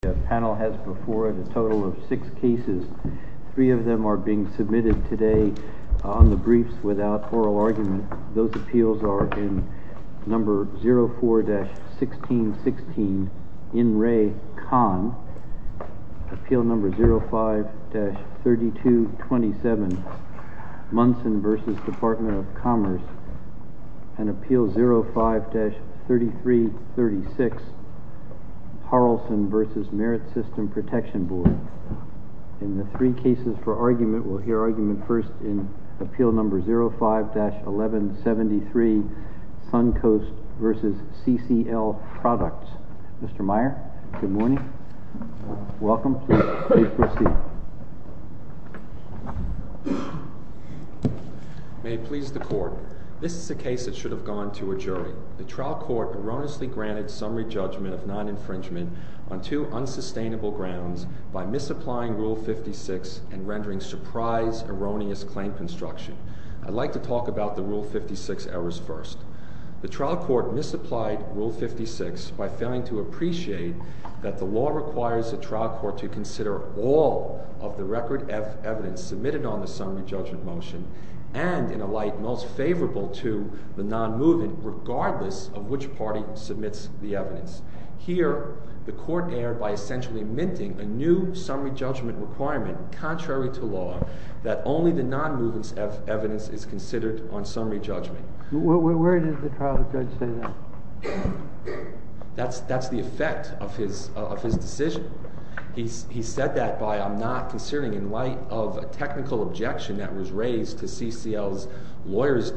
The panel has before it a total of six cases. Three of them are being submitted today on the briefs without oral argument. Those appeals are in number 04-1616, In Re. Con. Appeal number 05-3227, Munson v. Department of Commerce. And Appeal number 05-3336, Harrelson v. Merit System Protection Board. In the three cases for argument, we'll hear argument first in Appeal number 05-1173, Sun Coast v. CCL Products. Mr. Meyer, good morning. Welcome. Please proceed. May it please the Court. This is a case that should have gone to a jury. The trial court erroneously granted summary judgment of non-infringement on two unsustainable grounds by misapplying Rule 56 and rendering surprise, erroneous claim construction. I'd like to talk about the Rule 56 errors first. The trial court misapplied Rule 56 by failing to appreciate that the law requires the trial court to consider all of the Record F evidence submitted on the summary judgment motion, and in a light most favorable to the non-movement, regardless of which party submits the evidence. Here, the court erred by essentially minting a new summary judgment requirement, contrary to law, that only the non-movement's F evidence is considered on summary judgment. Where did the trial judge say that? That's the effect of his decision. He said that by, I'm not considering in light of a technical objection that was raised to CCL's lawyer's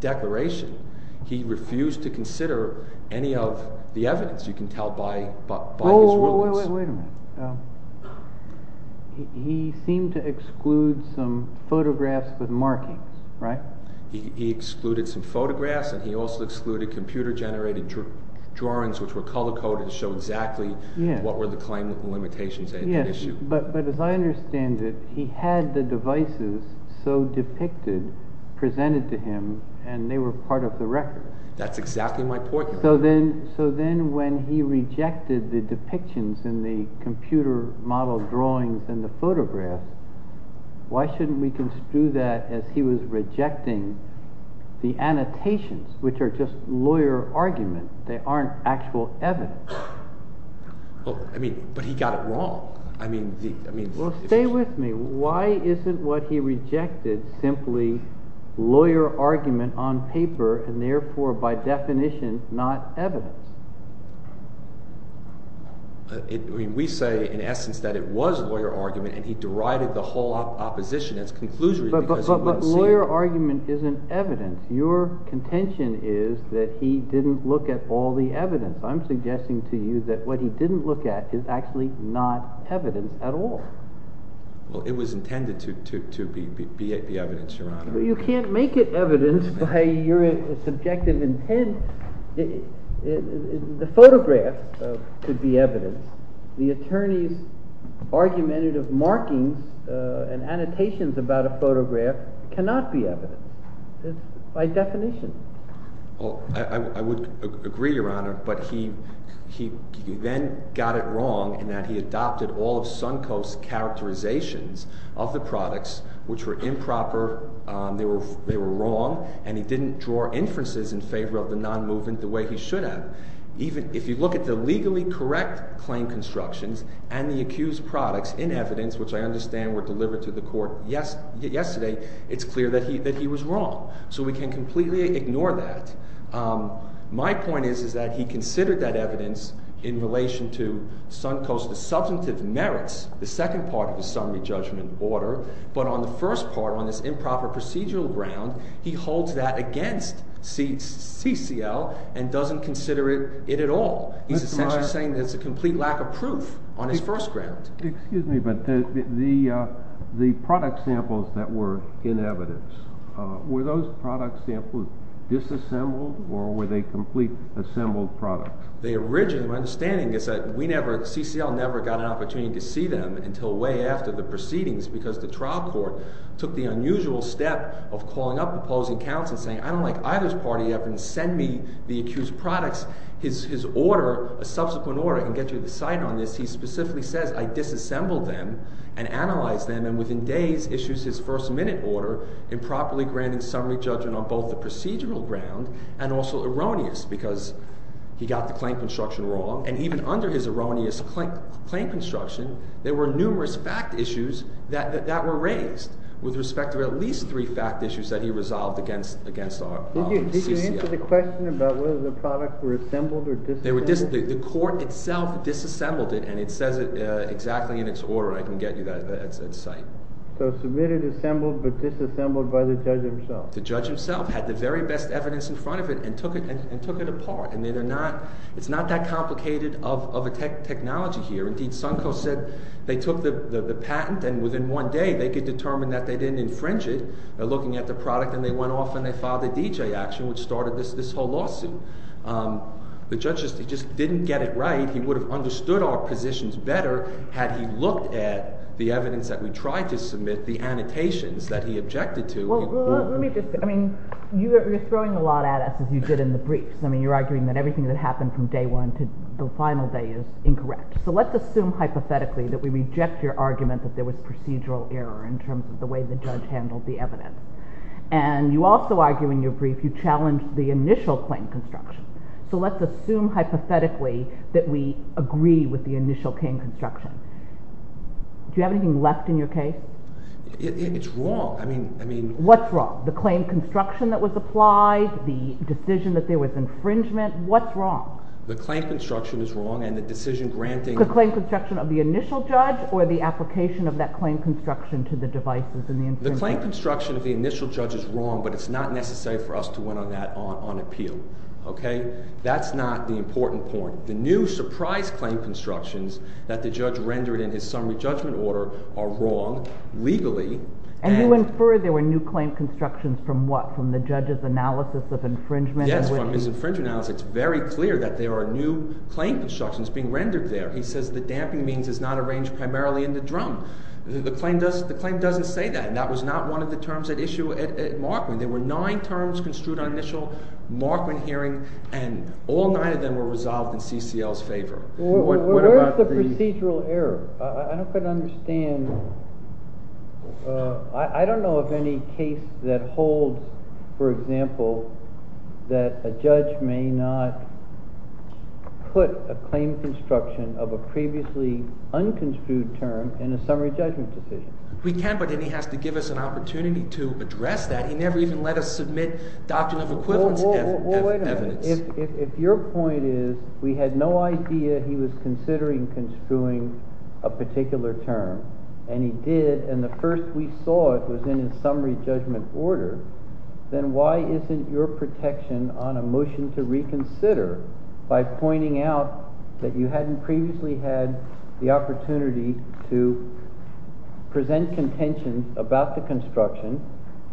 declaration. He refused to consider any of the evidence, you can tell by his rulings. Wait a minute. He seemed to exclude some photographs with markings, right? He excluded some photographs, and he also excluded computer-generated drawings which were color-coded to show exactly what were the claim limitations and the issue. But as I understand it, he had the devices so depicted presented to him, and they were part of the record. That's exactly my point. So then when he rejected the depictions in the computer-model drawings in the photographs, why shouldn't we construe that as he was rejecting the annotations, which are just lawyer arguments? They aren't actual evidence. Well, stay with me. Why isn't what he rejected simply lawyer argument on paper and therefore by definition not evidence? We say in essence that it was lawyer argument, and he derided the whole opposition as conclusion because he wouldn't see it. But lawyer argument isn't evidence. Your contention is that he didn't look at all the evidence. I'm suggesting to you that what he didn't look at is actually not evidence at all. Well, it was intended to be evidence, Your Honor. But you can't make it evidence by your subjective intent. The photograph could be evidence. The attorney's argumentative markings and annotations about a photograph cannot be evidence. It's by definition. Well, I would agree, Your Honor, but he then got it wrong in that he adopted all of Suncoast's characterizations of the products, which were improper. They were wrong, and he didn't draw inferences in favor of the non-movement the way he should have. If you look at the legally correct claim constructions and the accused products in evidence, which I understand were delivered to the court yesterday, it's clear that he was wrong. So we can completely ignore that. My point is that he considered that evidence in relation to Suncoast's substantive merits, the second part of the summary judgment order. But on the first part, on this improper procedural ground, he holds that against CCL and doesn't consider it at all. He's essentially saying there's a complete lack of proof on his first ground. Excuse me, but the product samples that were in evidence, were those product samples disassembled or were they complete assembled products? The original understanding is that we never—CCL never got an opportunity to see them until way after the proceedings because the trial court took the unusual step of calling up opposing counsel and saying, I disassembled them and analyzed them and within days issues his first minute order improperly granting summary judgment on both the procedural ground and also erroneous because he got the claim construction wrong. And even under his erroneous claim construction, there were numerous fact issues that were raised with respect to at least three fact issues that he resolved against CCL. Did you answer the question about whether the products were assembled or disassembled? The court itself disassembled it and it says it exactly in its order. I can get you that at sight. So submitted assembled but disassembled by the judge himself? The judge himself had the very best evidence in front of it and took it apart. It's not that complicated of a technology here. Indeed, Sunco said they took the patent and within one day they could determine that they didn't infringe it. They're looking at the product and they went off and they filed a DJ action which started this whole lawsuit. The judge just didn't get it right. He would have understood our positions better had he looked at the evidence that we tried to submit, the annotations that he objected to. Well, let me just – I mean, you're throwing a lot at us as you did in the briefs. I mean, you're arguing that everything that happened from day one to the final day is incorrect. So let's assume hypothetically that we reject your argument that there was procedural error in terms of the way the judge handled the evidence. And you also argue in your brief you challenged the initial claim construction. So let's assume hypothetically that we agree with the initial claim construction. Do you have anything left in your case? It's wrong. I mean – What's wrong? The claim construction that was applied, the decision that there was infringement? What's wrong? The claim construction is wrong and the decision granting – The claim construction of the initial judge or the application of that claim construction to the devices and the infringement? The claim construction of the initial judge is wrong, but it's not necessary for us to win on that on appeal. Okay? That's not the important point. The new surprise claim constructions that the judge rendered in his summary judgment order are wrong legally. And you infer there were new claim constructions from what? From the judge's analysis of infringement? Yes, from his infringement analysis. It's very clear that there are new claim constructions being rendered there. He says the damping means is not arranged primarily in the drum. The claim doesn't say that, and that was not one of the terms at issue at Markman. There were nine terms construed on initial Markman hearing, and all nine of them were resolved in CCL's favor. Where is the procedural error? I don't quite understand. I don't know of any case that holds, for example, that a judge may not put a claim construction of a previously unconstrued term in a summary judgment decision. We can, but then he has to give us an opportunity to address that. He never even let us submit doctrine of equivalence evidence. Wait a minute. If your point is we had no idea he was considering construing a particular term, and he did, and the first we saw it was in his summary judgment order, then why isn't your protection on a motion to reconsider by pointing out that you hadn't previously had the opportunity to present contention about the construction,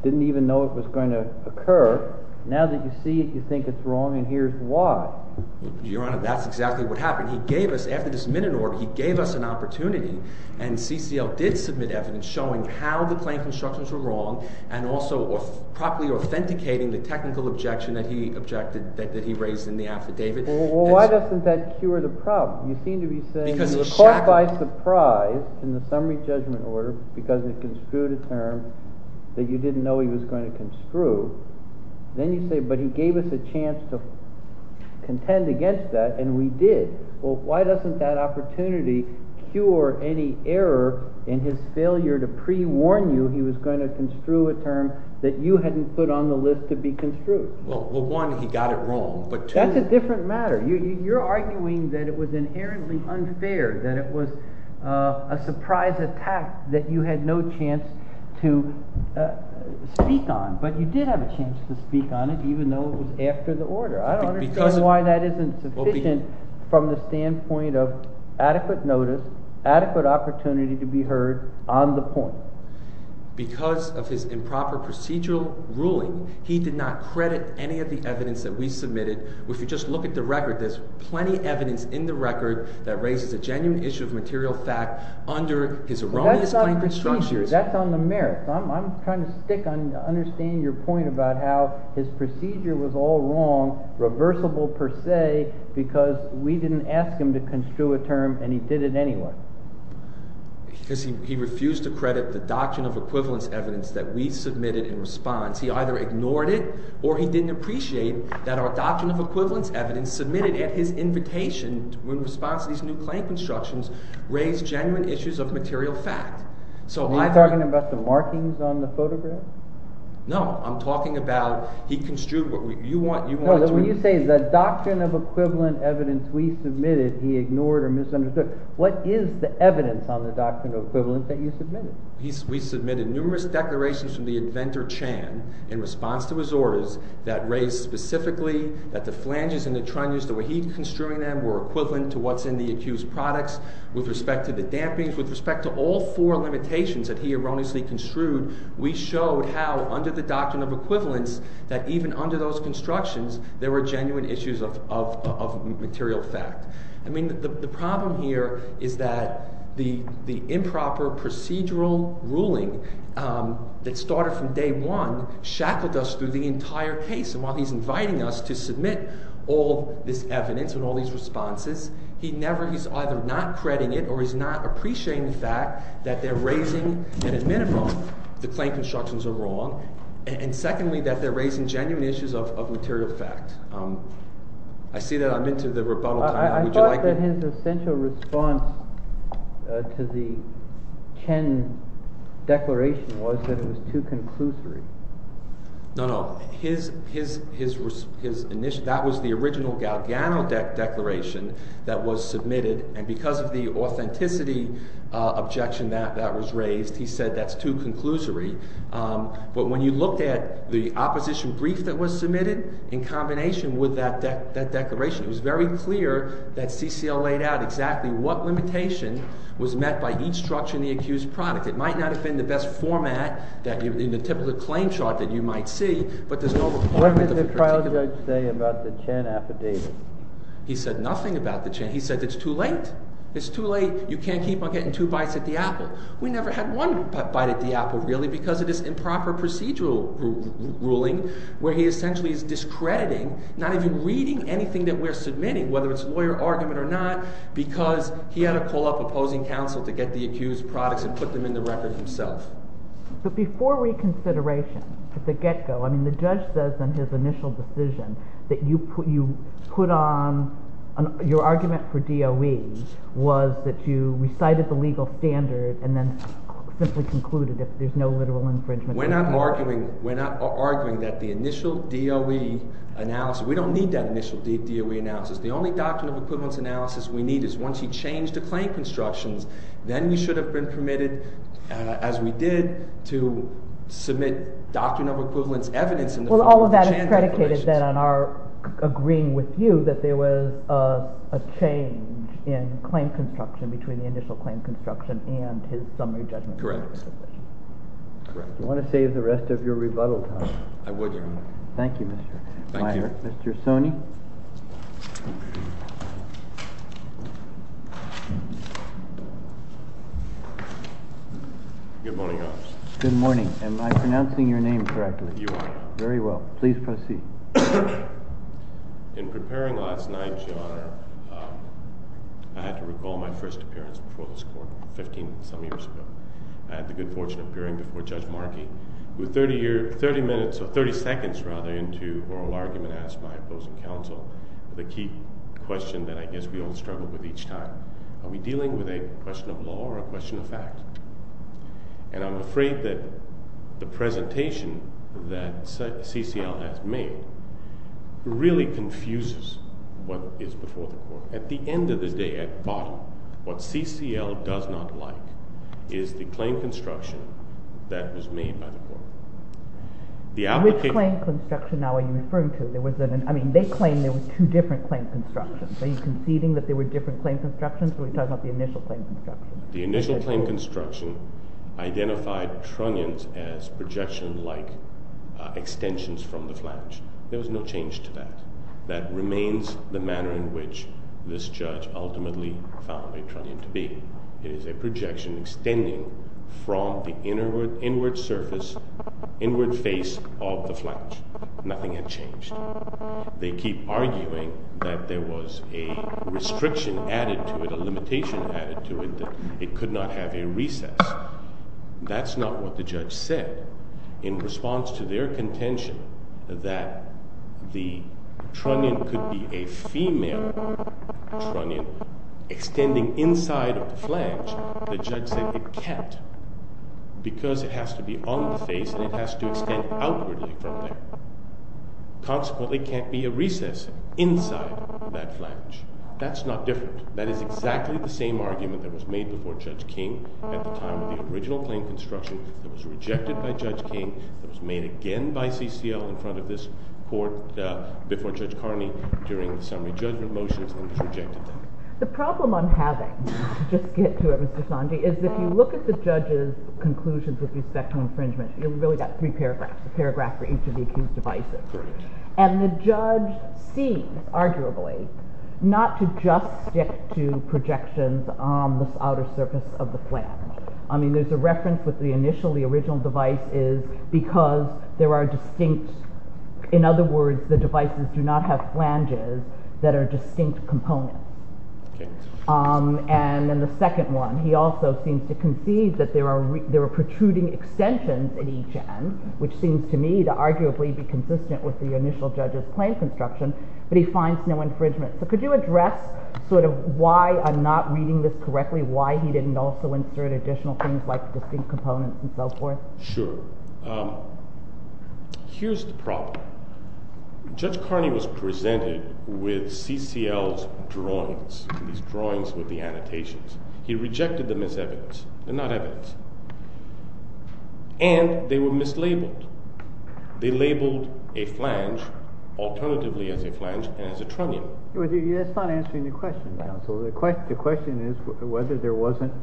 didn't even know it was going to occur, now that you see it, you think it's wrong, and here's why. Your Honor, that's exactly what happened. He gave us, after this minute order, he gave us an opportunity, and CCL did submit evidence showing how the claim constructions were wrong, and also properly authenticating the technical objection that he raised in the affidavit. Well, why doesn't that cure the problem? You seem to be saying you were caught by surprise in the summary judgment order because it construed a term that you didn't know he was going to construe. Then you say, but he gave us a chance to contend against that, and we did. Well, why doesn't that opportunity cure any error in his failure to pre-warn you he was going to construe a term that you hadn't put on the list to be construed? Well, one, he got it wrong, but two— That's a different matter. You're arguing that it was inherently unfair, that it was a surprise attack that you had no chance to speak on, but you did have a chance to speak on it even though it was after the order. I don't understand why that isn't sufficient from the standpoint of adequate notice, adequate opportunity to be heard on the point. Because of his improper procedural ruling, he did not credit any of the evidence that we submitted. If you just look at the record, there's plenty of evidence in the record that raises a genuine issue of material fact under his erroneous claim constructions. That's on the merits. I'm trying to stick on understanding your point about how his procedure was all wrong, reversible per se, because we didn't ask him to construe a term, and he did it anyway. Because he refused to credit the doctrine of equivalence evidence that we submitted in response. He either ignored it or he didn't appreciate that our doctrine of equivalence evidence submitted at his invitation in response to these new claim constructions raised genuine issues of material fact. Am I talking about the markings on the photograph? No, I'm talking about he construed— No, when you say the doctrine of equivalent evidence we submitted he ignored or misunderstood, what is the evidence on the doctrine of equivalence that you submitted? We submitted numerous declarations from the inventor Chan in response to his orders that raised specifically that the flanges and the trunnions, the way he's construing them, were equivalent to what's in the accused products. With respect to the dampenings, with respect to all four limitations that he erroneously construed, we showed how under the doctrine of equivalence that even under those constructions there were genuine issues of material fact. I mean the problem here is that the improper procedural ruling that started from day one shackled us through the entire case. And while he's inviting us to submit all this evidence and all these responses, he never—he's either not crediting it or he's not appreciating the fact that they're raising, at a minimum, the claim constructions are wrong. And secondly, that they're raising genuine issues of material fact. I see that I'm into the rebuttal time. Would you like to— I thought that his essential response to the Chan declaration was that it was too conclusory. No, no. His initial—that was the original Galgiano declaration that was submitted, and because of the authenticity objection that was raised, he said that's too conclusory. But when you looked at the opposition brief that was submitted in combination with that declaration, it was very clear that CCL laid out exactly what limitation was met by each structure in the accused product. It might not have been the best format that—in the typical claim chart that you might see, but there's no— What did the trial judge say about the Chan affidavit? He said nothing about the Chan. He said it's too late. It's too late. You can't keep on getting two bites at the apple. We never had one bite at the apple, really, because of this improper procedural ruling where he essentially is discrediting, not even reading anything that we're submitting, whether it's lawyer argument or not, because he had to call up opposing counsel to get the accused products and put them in the record himself. But before reconsideration, at the get-go, I mean the judge says in his initial decision that you put on—your argument for DOE was that you recited the legal standard and then simply concluded that there's no literal infringement. We're not arguing that the initial DOE analysis—we don't need that initial DOE analysis. The only doctrine of equivalence analysis we need is once you change the claim constructions, then you should have been permitted, as we did, to submit doctrine of equivalence evidence in the— Well, all of that is predicated then on our agreeing with you that there was a change in claim construction between the initial claim construction and his summary judgment. Correct. Do you want to save the rest of your rebuttal time? I would, Your Honor. Thank you, Mr. Meyer. Thank you. Mr. Soni? Good morning, Your Honor. Good morning. Am I pronouncing your name correctly? You are, Your Honor. Very well. Please proceed. In preparing last night, Your Honor, I had to recall my first appearance before this court 15-some years ago. I had the good fortune of appearing before Judge Markey, who 30 minutes—30 seconds, rather, into oral argument asked my opposing counsel the key question that I guess we all struggle with each time. Are we dealing with a question of law or a question of fact? And I'm afraid that the presentation that CCL has made really confuses what is before the court. At the end of the day, at the bottom, what CCL does not like is the claim construction that was made by the court. Which claim construction now are you referring to? There was an—I mean, they claim there were two different claim constructions. Are you conceding that there were different claim constructions? Are we talking about the initial claim construction? The initial claim construction identified trunnions as projection-like extensions from the flange. There was no change to that. That remains the manner in which this judge ultimately found a trunnion to be. It is a projection extending from the inward surface, inward face of the flange. Nothing had changed. They keep arguing that there was a restriction added to it, a limitation added to it, that it could not have a recess. That's not what the judge said. In response to their contention that the trunnion could be a female trunnion extending inside of the flange, the judge said it can't because it has to be on the face and it has to extend outwardly from there. Consequently, it can't be a recess inside that flange. That's not different. That is exactly the same argument that was made before Judge King at the time of the original claim construction that was rejected by Judge King, that was made again by CCL in front of this court before Judge Carney during the summary judgment motions and was rejected then. The problem I'm having, just to get to it, Mr. Sanji, is if you look at the judge's conclusions with respect to infringement, you've really got three paragraphs, a paragraph for each of the accused devices. And the judge sees, arguably, not to just stick to projections on the outer surface of the flange. I mean, there's a reference with the initial, the original device is because there are distinct, in other words, the devices do not have flanges that are distinct components. And then the second one, he also seems to concede that there are protruding extensions at each end, which seems to me to arguably be consistent with the initial judge's claim construction, but he finds no infringement. So could you address sort of why I'm not reading this correctly, why he didn't also insert additional things like distinct components and so forth? Sure. Here's the problem. Judge Carney was presented with CCL's drawings, these drawings with the annotations. He rejected them as evidence. They're not evidence. And they were mislabeled. They labeled a flange alternatively as a flange and as a trunnion. That's not answering the question, counsel. The question is whether there wasn't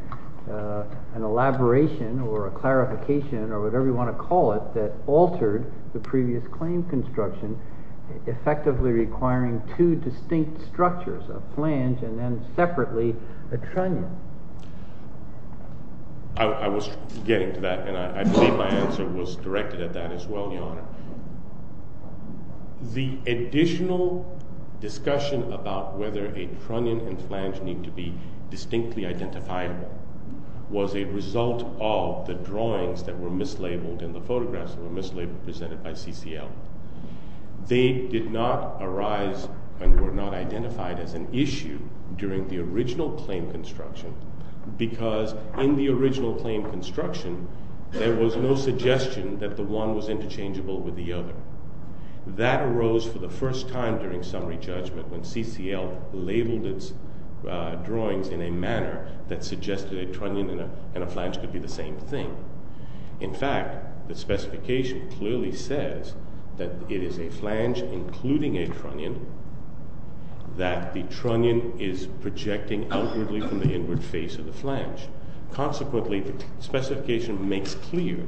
an elaboration or a clarification or whatever you want to call it that altered the previous claim construction, effectively requiring two distinct structures, a flange and then separately a trunnion. I was getting to that, and I believe my answer was directed at that as well, Your Honor. The additional discussion about whether a trunnion and flange need to be distinctly identifiable was a result of the drawings that were mislabeled and the photographs that were mislabeled presented by CCL. They did not arise and were not identified as an issue during the original claim construction because in the original claim construction, there was no suggestion that the one was interchangeable with the other. That arose for the first time during summary judgment when CCL labeled its drawings in a manner that suggested a trunnion and a flange could be the same thing. In fact, the specification clearly says that it is a flange including a trunnion, that the trunnion is projecting outwardly from the inward face of the flange. Consequently, the specification makes clear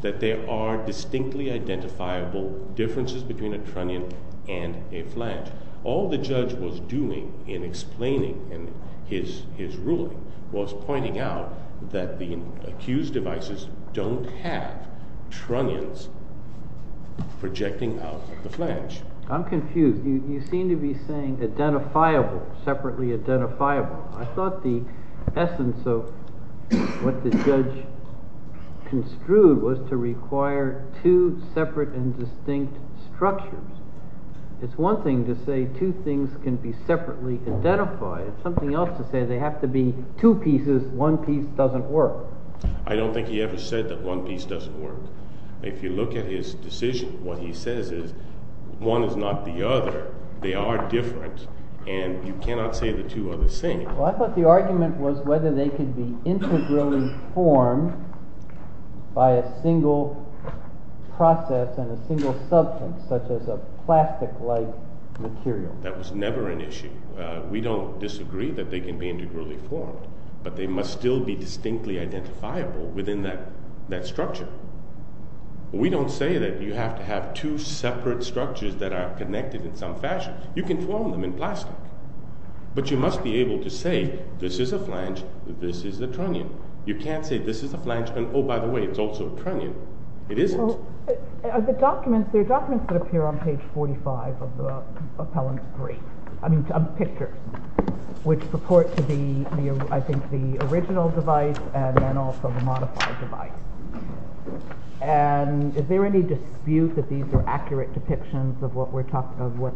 that there are distinctly identifiable differences between a trunnion and a flange. All the judge was doing in explaining his ruling was pointing out that the accused devices don't have trunnions projecting out of the flange. I'm confused. You seem to be saying identifiable, separately identifiable. I thought the essence of what the judge construed was to require two separate and distinct structures. It's one thing to say two things can be separately identified. It's something else to say they have to be two pieces, one piece doesn't work. I don't think he ever said that one piece doesn't work. If you look at his decision, what he says is one is not the other, they are different, and you cannot say the two are the same. I thought the argument was whether they could be integrally formed by a single process and a single substance, such as a plastic-like material. That was never an issue. We don't disagree that they can be integrally formed, but they must still be distinctly identifiable within that structure. We don't say that you have to have two separate structures that are connected in some fashion. You can form them in plastic, but you must be able to say this is a flange, this is a trunnion. You can't say this is a flange, and oh, by the way, it's also a trunnion. It isn't. There are documents that appear on page 45 of the appellant's brief, I mean picture, which purport to be, I think, the original device and then also the modified device. And is there any dispute that these are accurate depictions of what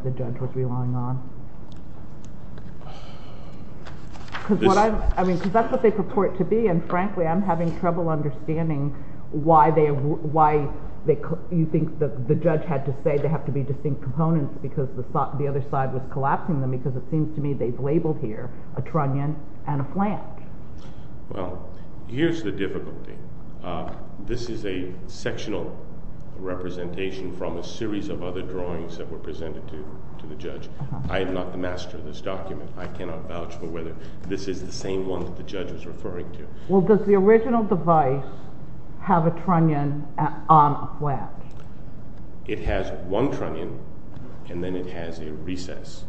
the judge was relying on? Because that's what they purport to be, and frankly, I'm having trouble understanding why you think the judge had to say they have to be distinct components because the other side was collapsing them, because it seems to me they've labeled here a trunnion and a flange. Well, here's the difficulty. This is a sectional representation from a series of other drawings that were presented to the judge. I am not the master of this document. I cannot vouch for whether this is the same one that the judge was referring to. Well, does the original device have a trunnion on a flange? It has one trunnion, and then it has a recess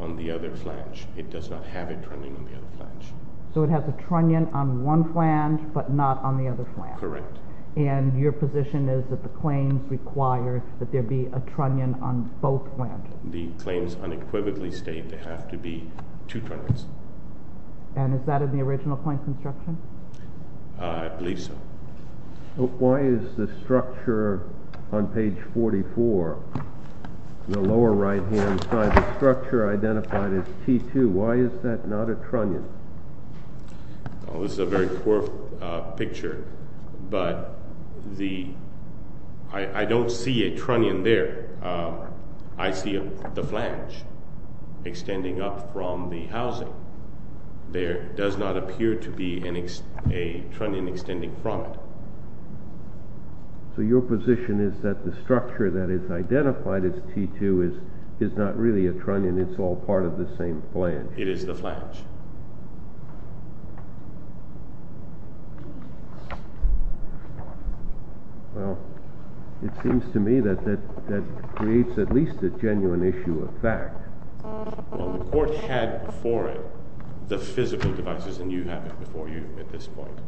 on the other flange. It does not have a trunnion on the other flange. So it has a trunnion on one flange, but not on the other flange. Correct. And your position is that the claim requires that there be a trunnion on both flanges. The claims unequivocally state there have to be two trunnions. And is that in the original claim construction? I believe so. Why is the structure on page 44, the lower right-hand side, the structure identified as T2, why is that not a trunnion? This is a very poor picture, but I don't see a trunnion there. I see the flange extending up from the housing. There does not appear to be a trunnion extending from it. So your position is that the structure that is identified as T2 is not really a trunnion, it's all part of the same flange. It is the flange. Well, it seems to me that that creates at least a genuine issue of fact. Well, the court had before it the physical devices, and you have it before you at this point.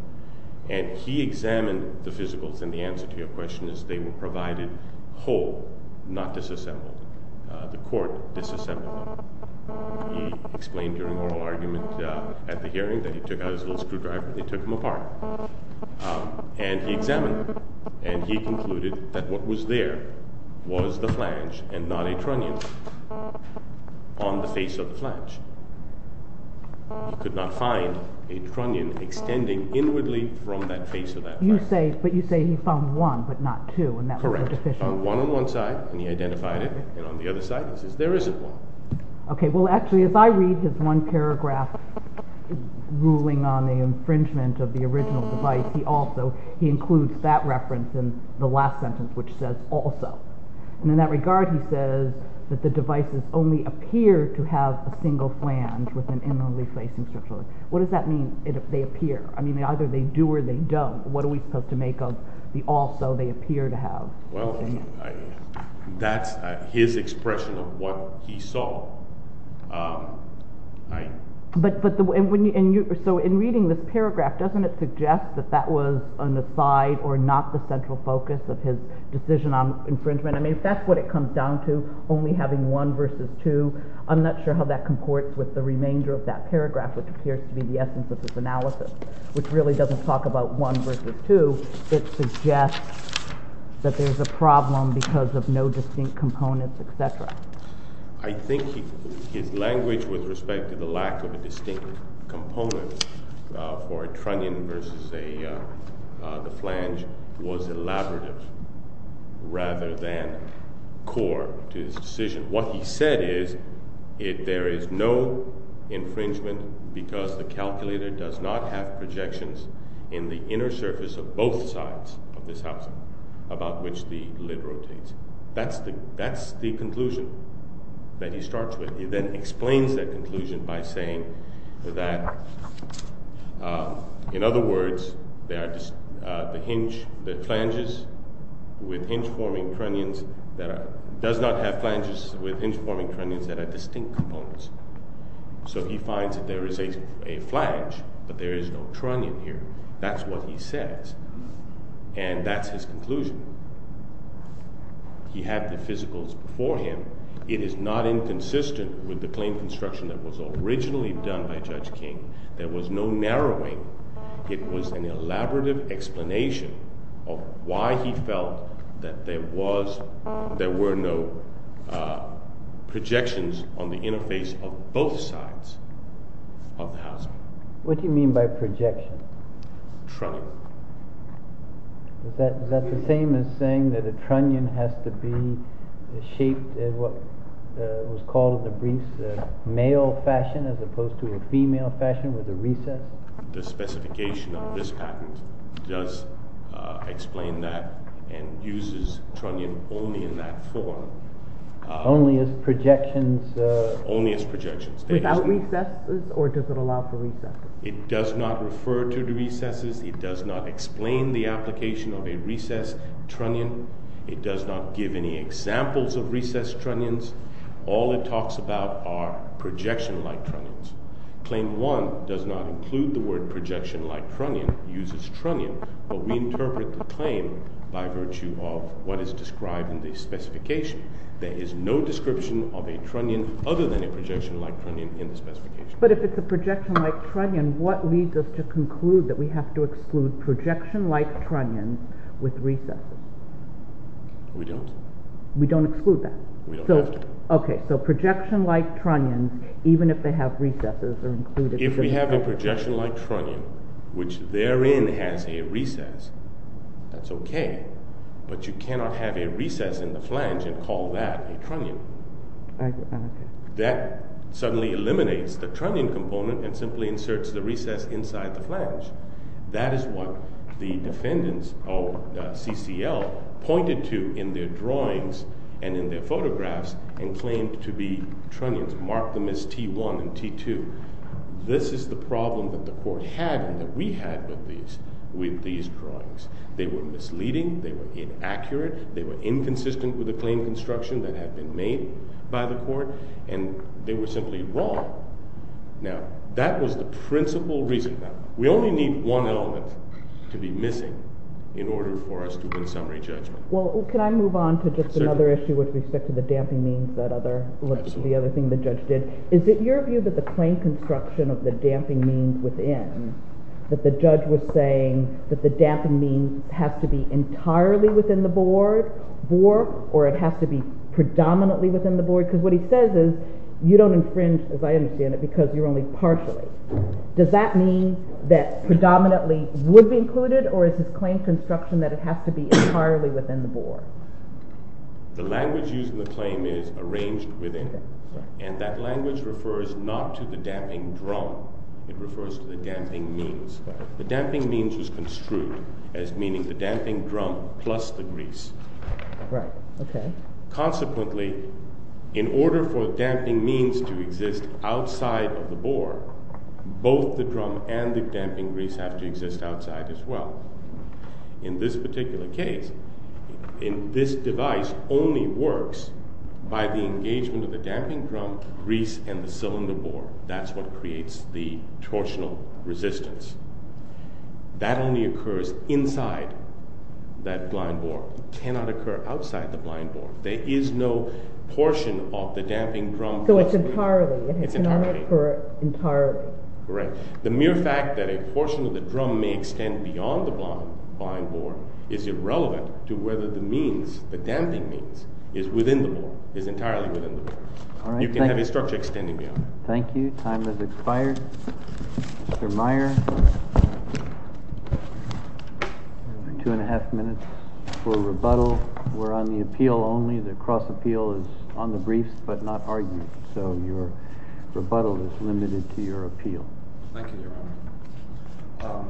And he examined the physicals, and the answer to your question is they were provided whole, not disassembled. The court disassembled them. He explained during oral argument at the hearing that he took out his little screwdriver and he took them apart. And he examined them, and he concluded that what was there was the flange and not a trunnion. On the face of the flange. He could not find a trunnion extending inwardly from that face of that flange. But you say he found one, but not two, and that would be deficient. Correct. He found one on one side, and he identified it, and on the other side he says there isn't one. Okay, well actually if I read his one paragraph ruling on the infringement of the original device, he includes that reference in the last sentence, which says also. And in that regard he says that the devices only appear to have a single flange with an inwardly facing strip joint. What does that mean if they appear? I mean either they do or they don't. What are we supposed to make of the also they appear to have? Well, that's his expression of what he saw. So in reading this paragraph, doesn't it suggest that that was an aside or not the central focus of his decision on infringement? I mean if that's what it comes down to, only having one versus two, I'm not sure how that comports with the remainder of that paragraph, which appears to be the essence of his analysis, which really doesn't talk about one versus two. It suggests that there's a problem because of no distinct components, etc. I think his language with respect to the lack of a distinct component for a trunnion versus the flange was elaborative rather than core to his decision. What he said is there is no infringement because the calculator does not have projections in the inner surface of both sides of this housing about which the lid rotates. That's the conclusion that he starts with. He then explains that conclusion by saying that, in other words, the flanges with hinge-forming trunnions does not have flanges with hinge-forming trunnions that are distinct components. So he finds that there is a flange, but there is no trunnion here. That's what he says, and that's his conclusion. He had the physicals before him. It is not inconsistent with the claim construction that was originally done by Judge King. There was no narrowing. It was an elaborative explanation of why he felt that there were no projections on the interface of both sides of the housing. What do you mean by projection? Trunnion. Is that the same as saying that a trunnion has to be shaped in what was called a male fashion as opposed to a female fashion with a recess? The specification of this patent does explain that and uses trunnion only in that form. Only as projections? Only as projections. Without recesses, or does it allow for recesses? It does not refer to recesses. It does not explain the application of a recessed trunnion. It does not give any examples of recessed trunnions. All it talks about are projection-like trunnions. Claim 1 does not include the word projection-like trunnion. It uses trunnion, but we interpret the claim by virtue of what is described in the specification. There is no description of a trunnion other than a projection-like trunnion in the specification. But if it's a projection-like trunnion, what leads us to conclude that we have to exclude projection-like trunnions with recesses? We don't. We don't exclude that? We don't have to. Okay, so projection-like trunnions, even if they have recesses, are included. If we have a projection-like trunnion, which therein has a recess, that's okay. But you cannot have a recess in the flange and call that a trunnion. That suddenly eliminates the trunnion component and simply inserts the recess inside the flange. That is what the defendants of CCL pointed to in their drawings and in their photographs and claimed to be trunnions, marked them as T1 and T2. This is the problem that the court had and that we had with these drawings. They were misleading. They were inaccurate. They were inconsistent with the claim construction that had been made by the court, and they were simply wrong. Now, that was the principal reason. We only need one element to be missing in order for us to win summary judgment. Well, can I move on to just another issue with respect to the damping means, the other thing the judge did? Is it your view that the claim construction of the damping means within, that the judge was saying that the damping means have to be entirely within the board, or it has to be predominantly within the board? Because what he says is you don't infringe, as I understand it, because you're only partially. Does that mean that predominantly would be included, or is his claim construction that it has to be entirely within the board? The language used in the claim is arranged within, and that language refers not to the damping drum. It refers to the damping means. The damping means was construed as meaning the damping drum plus the grease. Right. Okay. Consequently, in order for the damping means to exist outside of the board, both the drum and the damping grease have to exist outside as well. In this particular case, in this device only works by the engagement of the damping drum, grease, and the cylinder board. That's what creates the torsional resistance. That only occurs inside that blind board. It cannot occur outside the blind board. There is no portion of the damping drum. So it's entirely. It's entirely. It cannot occur entirely. Right. The mere fact that a portion of the drum may extend beyond the blind board is irrelevant to whether the means, the damping means, is within the board, is entirely within the board. You can have a structure extending beyond. Thank you. Time has expired. Mr. Meyer, two and a half minutes for rebuttal. We're on the appeal only. The cross appeal is on the briefs, but not argued. So your rebuttal is limited to your appeal. Thank you, Your Honor.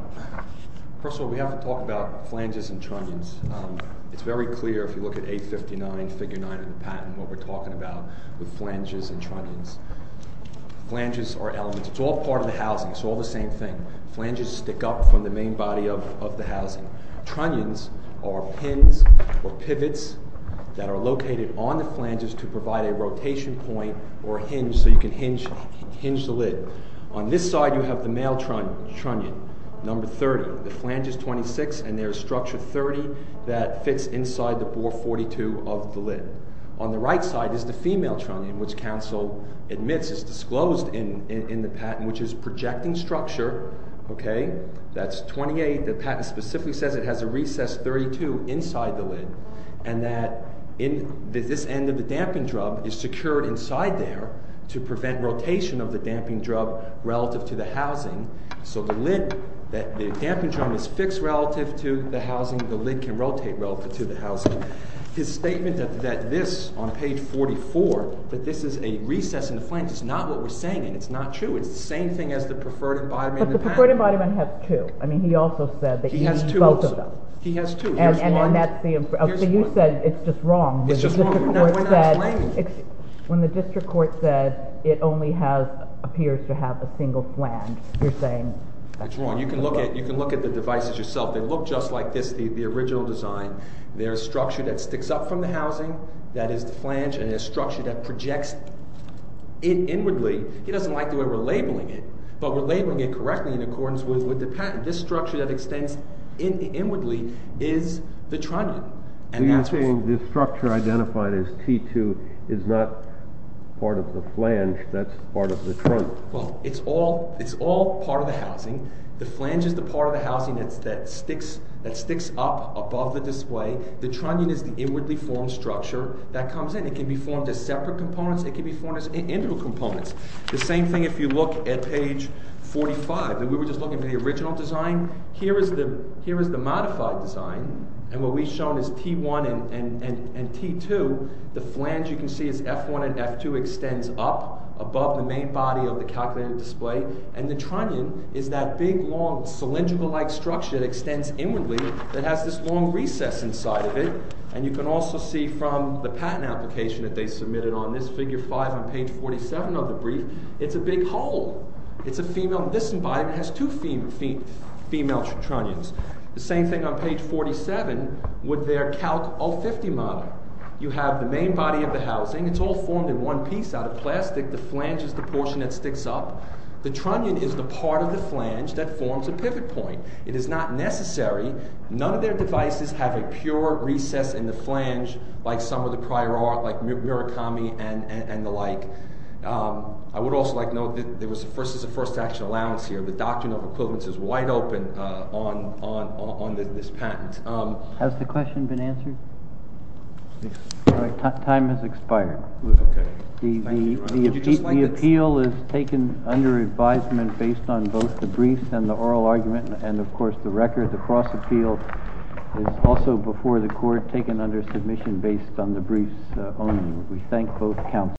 First of all, we have to talk about flanges and trunnions. It's very clear if you look at 859, figure nine of the patent, what we're talking about with flanges and trunnions. Flanges are elements. It's all part of the housing. It's all the same thing. Flanges stick up from the main body of the housing. Trunnions are pins or pivots that are located on the flanges to provide a rotation point or hinge so you can hinge the lid. On this side, you have the male trunnion, number 30. The flange is 26, and there is structure 30 that fits inside the bore 42 of the lid. On the right side is the female trunnion, which counsel admits is disclosed in the patent, which is projecting structure. Okay. That's 28. The patent specifically says it has a recess 32 inside the lid and that this end of the damping drum is secured inside there to prevent rotation of the damping drum relative to the housing. So the lid, the damping drum is fixed relative to the housing. The lid can rotate relative to the housing. His statement that this, on page 44, that this is a recess in the flange is not what we're saying, and it's not true. It's the same thing as the preferred embodiment in the patent. But the preferred embodiment has two. I mean he also said that he felt of them. He has two also. He has two. And then that's the— Here's one. Okay, you said it's just wrong. It's just wrong. That's what I'm explaining. When the district court said it only has—appears to have a single flange, you're saying that's wrong. That's wrong. You can look at the devices yourself. They look just like this, the original design. There's structure that sticks up from the housing that is the flange, and there's structure that projects it inwardly. He doesn't like the way we're labeling it, but we're labeling it correctly in accordance with the patent. This structure that extends inwardly is the trunnion, and that's what's— So you're saying this structure identified as T2 is not part of the flange. That's part of the trunnion. Well, it's all part of the housing. The flange is the part of the housing that sticks up above the display. The trunnion is the inwardly formed structure that comes in. It can be formed as separate components. It can be formed as integral components. The same thing if you look at page 45. We were just looking at the original design. Here is the modified design, and what we've shown is T1 and T2. The flange you can see is F1 and F2 extends up above the main body of the calculated display, and the trunnion is that big, long, cylindrical-like structure that extends inwardly that has this long recess inside of it. And you can also see from the patent application that they submitted on this, figure 5 on page 47 of the brief, it's a big hole. It's a female—this embodiment has two female trunnions. The same thing on page 47 with their Calc 050 model. You have the main body of the housing. It's all formed in one piece out of plastic. The flange is the portion that sticks up. The trunnion is the part of the flange that forms a pivot point. It is not necessary. None of their devices have a pure recess in the flange like some of the prior art, like Murakami and the like. I would also like to note that this is a first-action allowance here. The doctrine of equivalence is wide open on this patent. Has the question been answered? Time has expired. The appeal is taken under advisement based on both the brief and the oral argument, and, of course, the record of the cross-appeal is also before the court taken under submission based on the briefs only. We thank both counsel.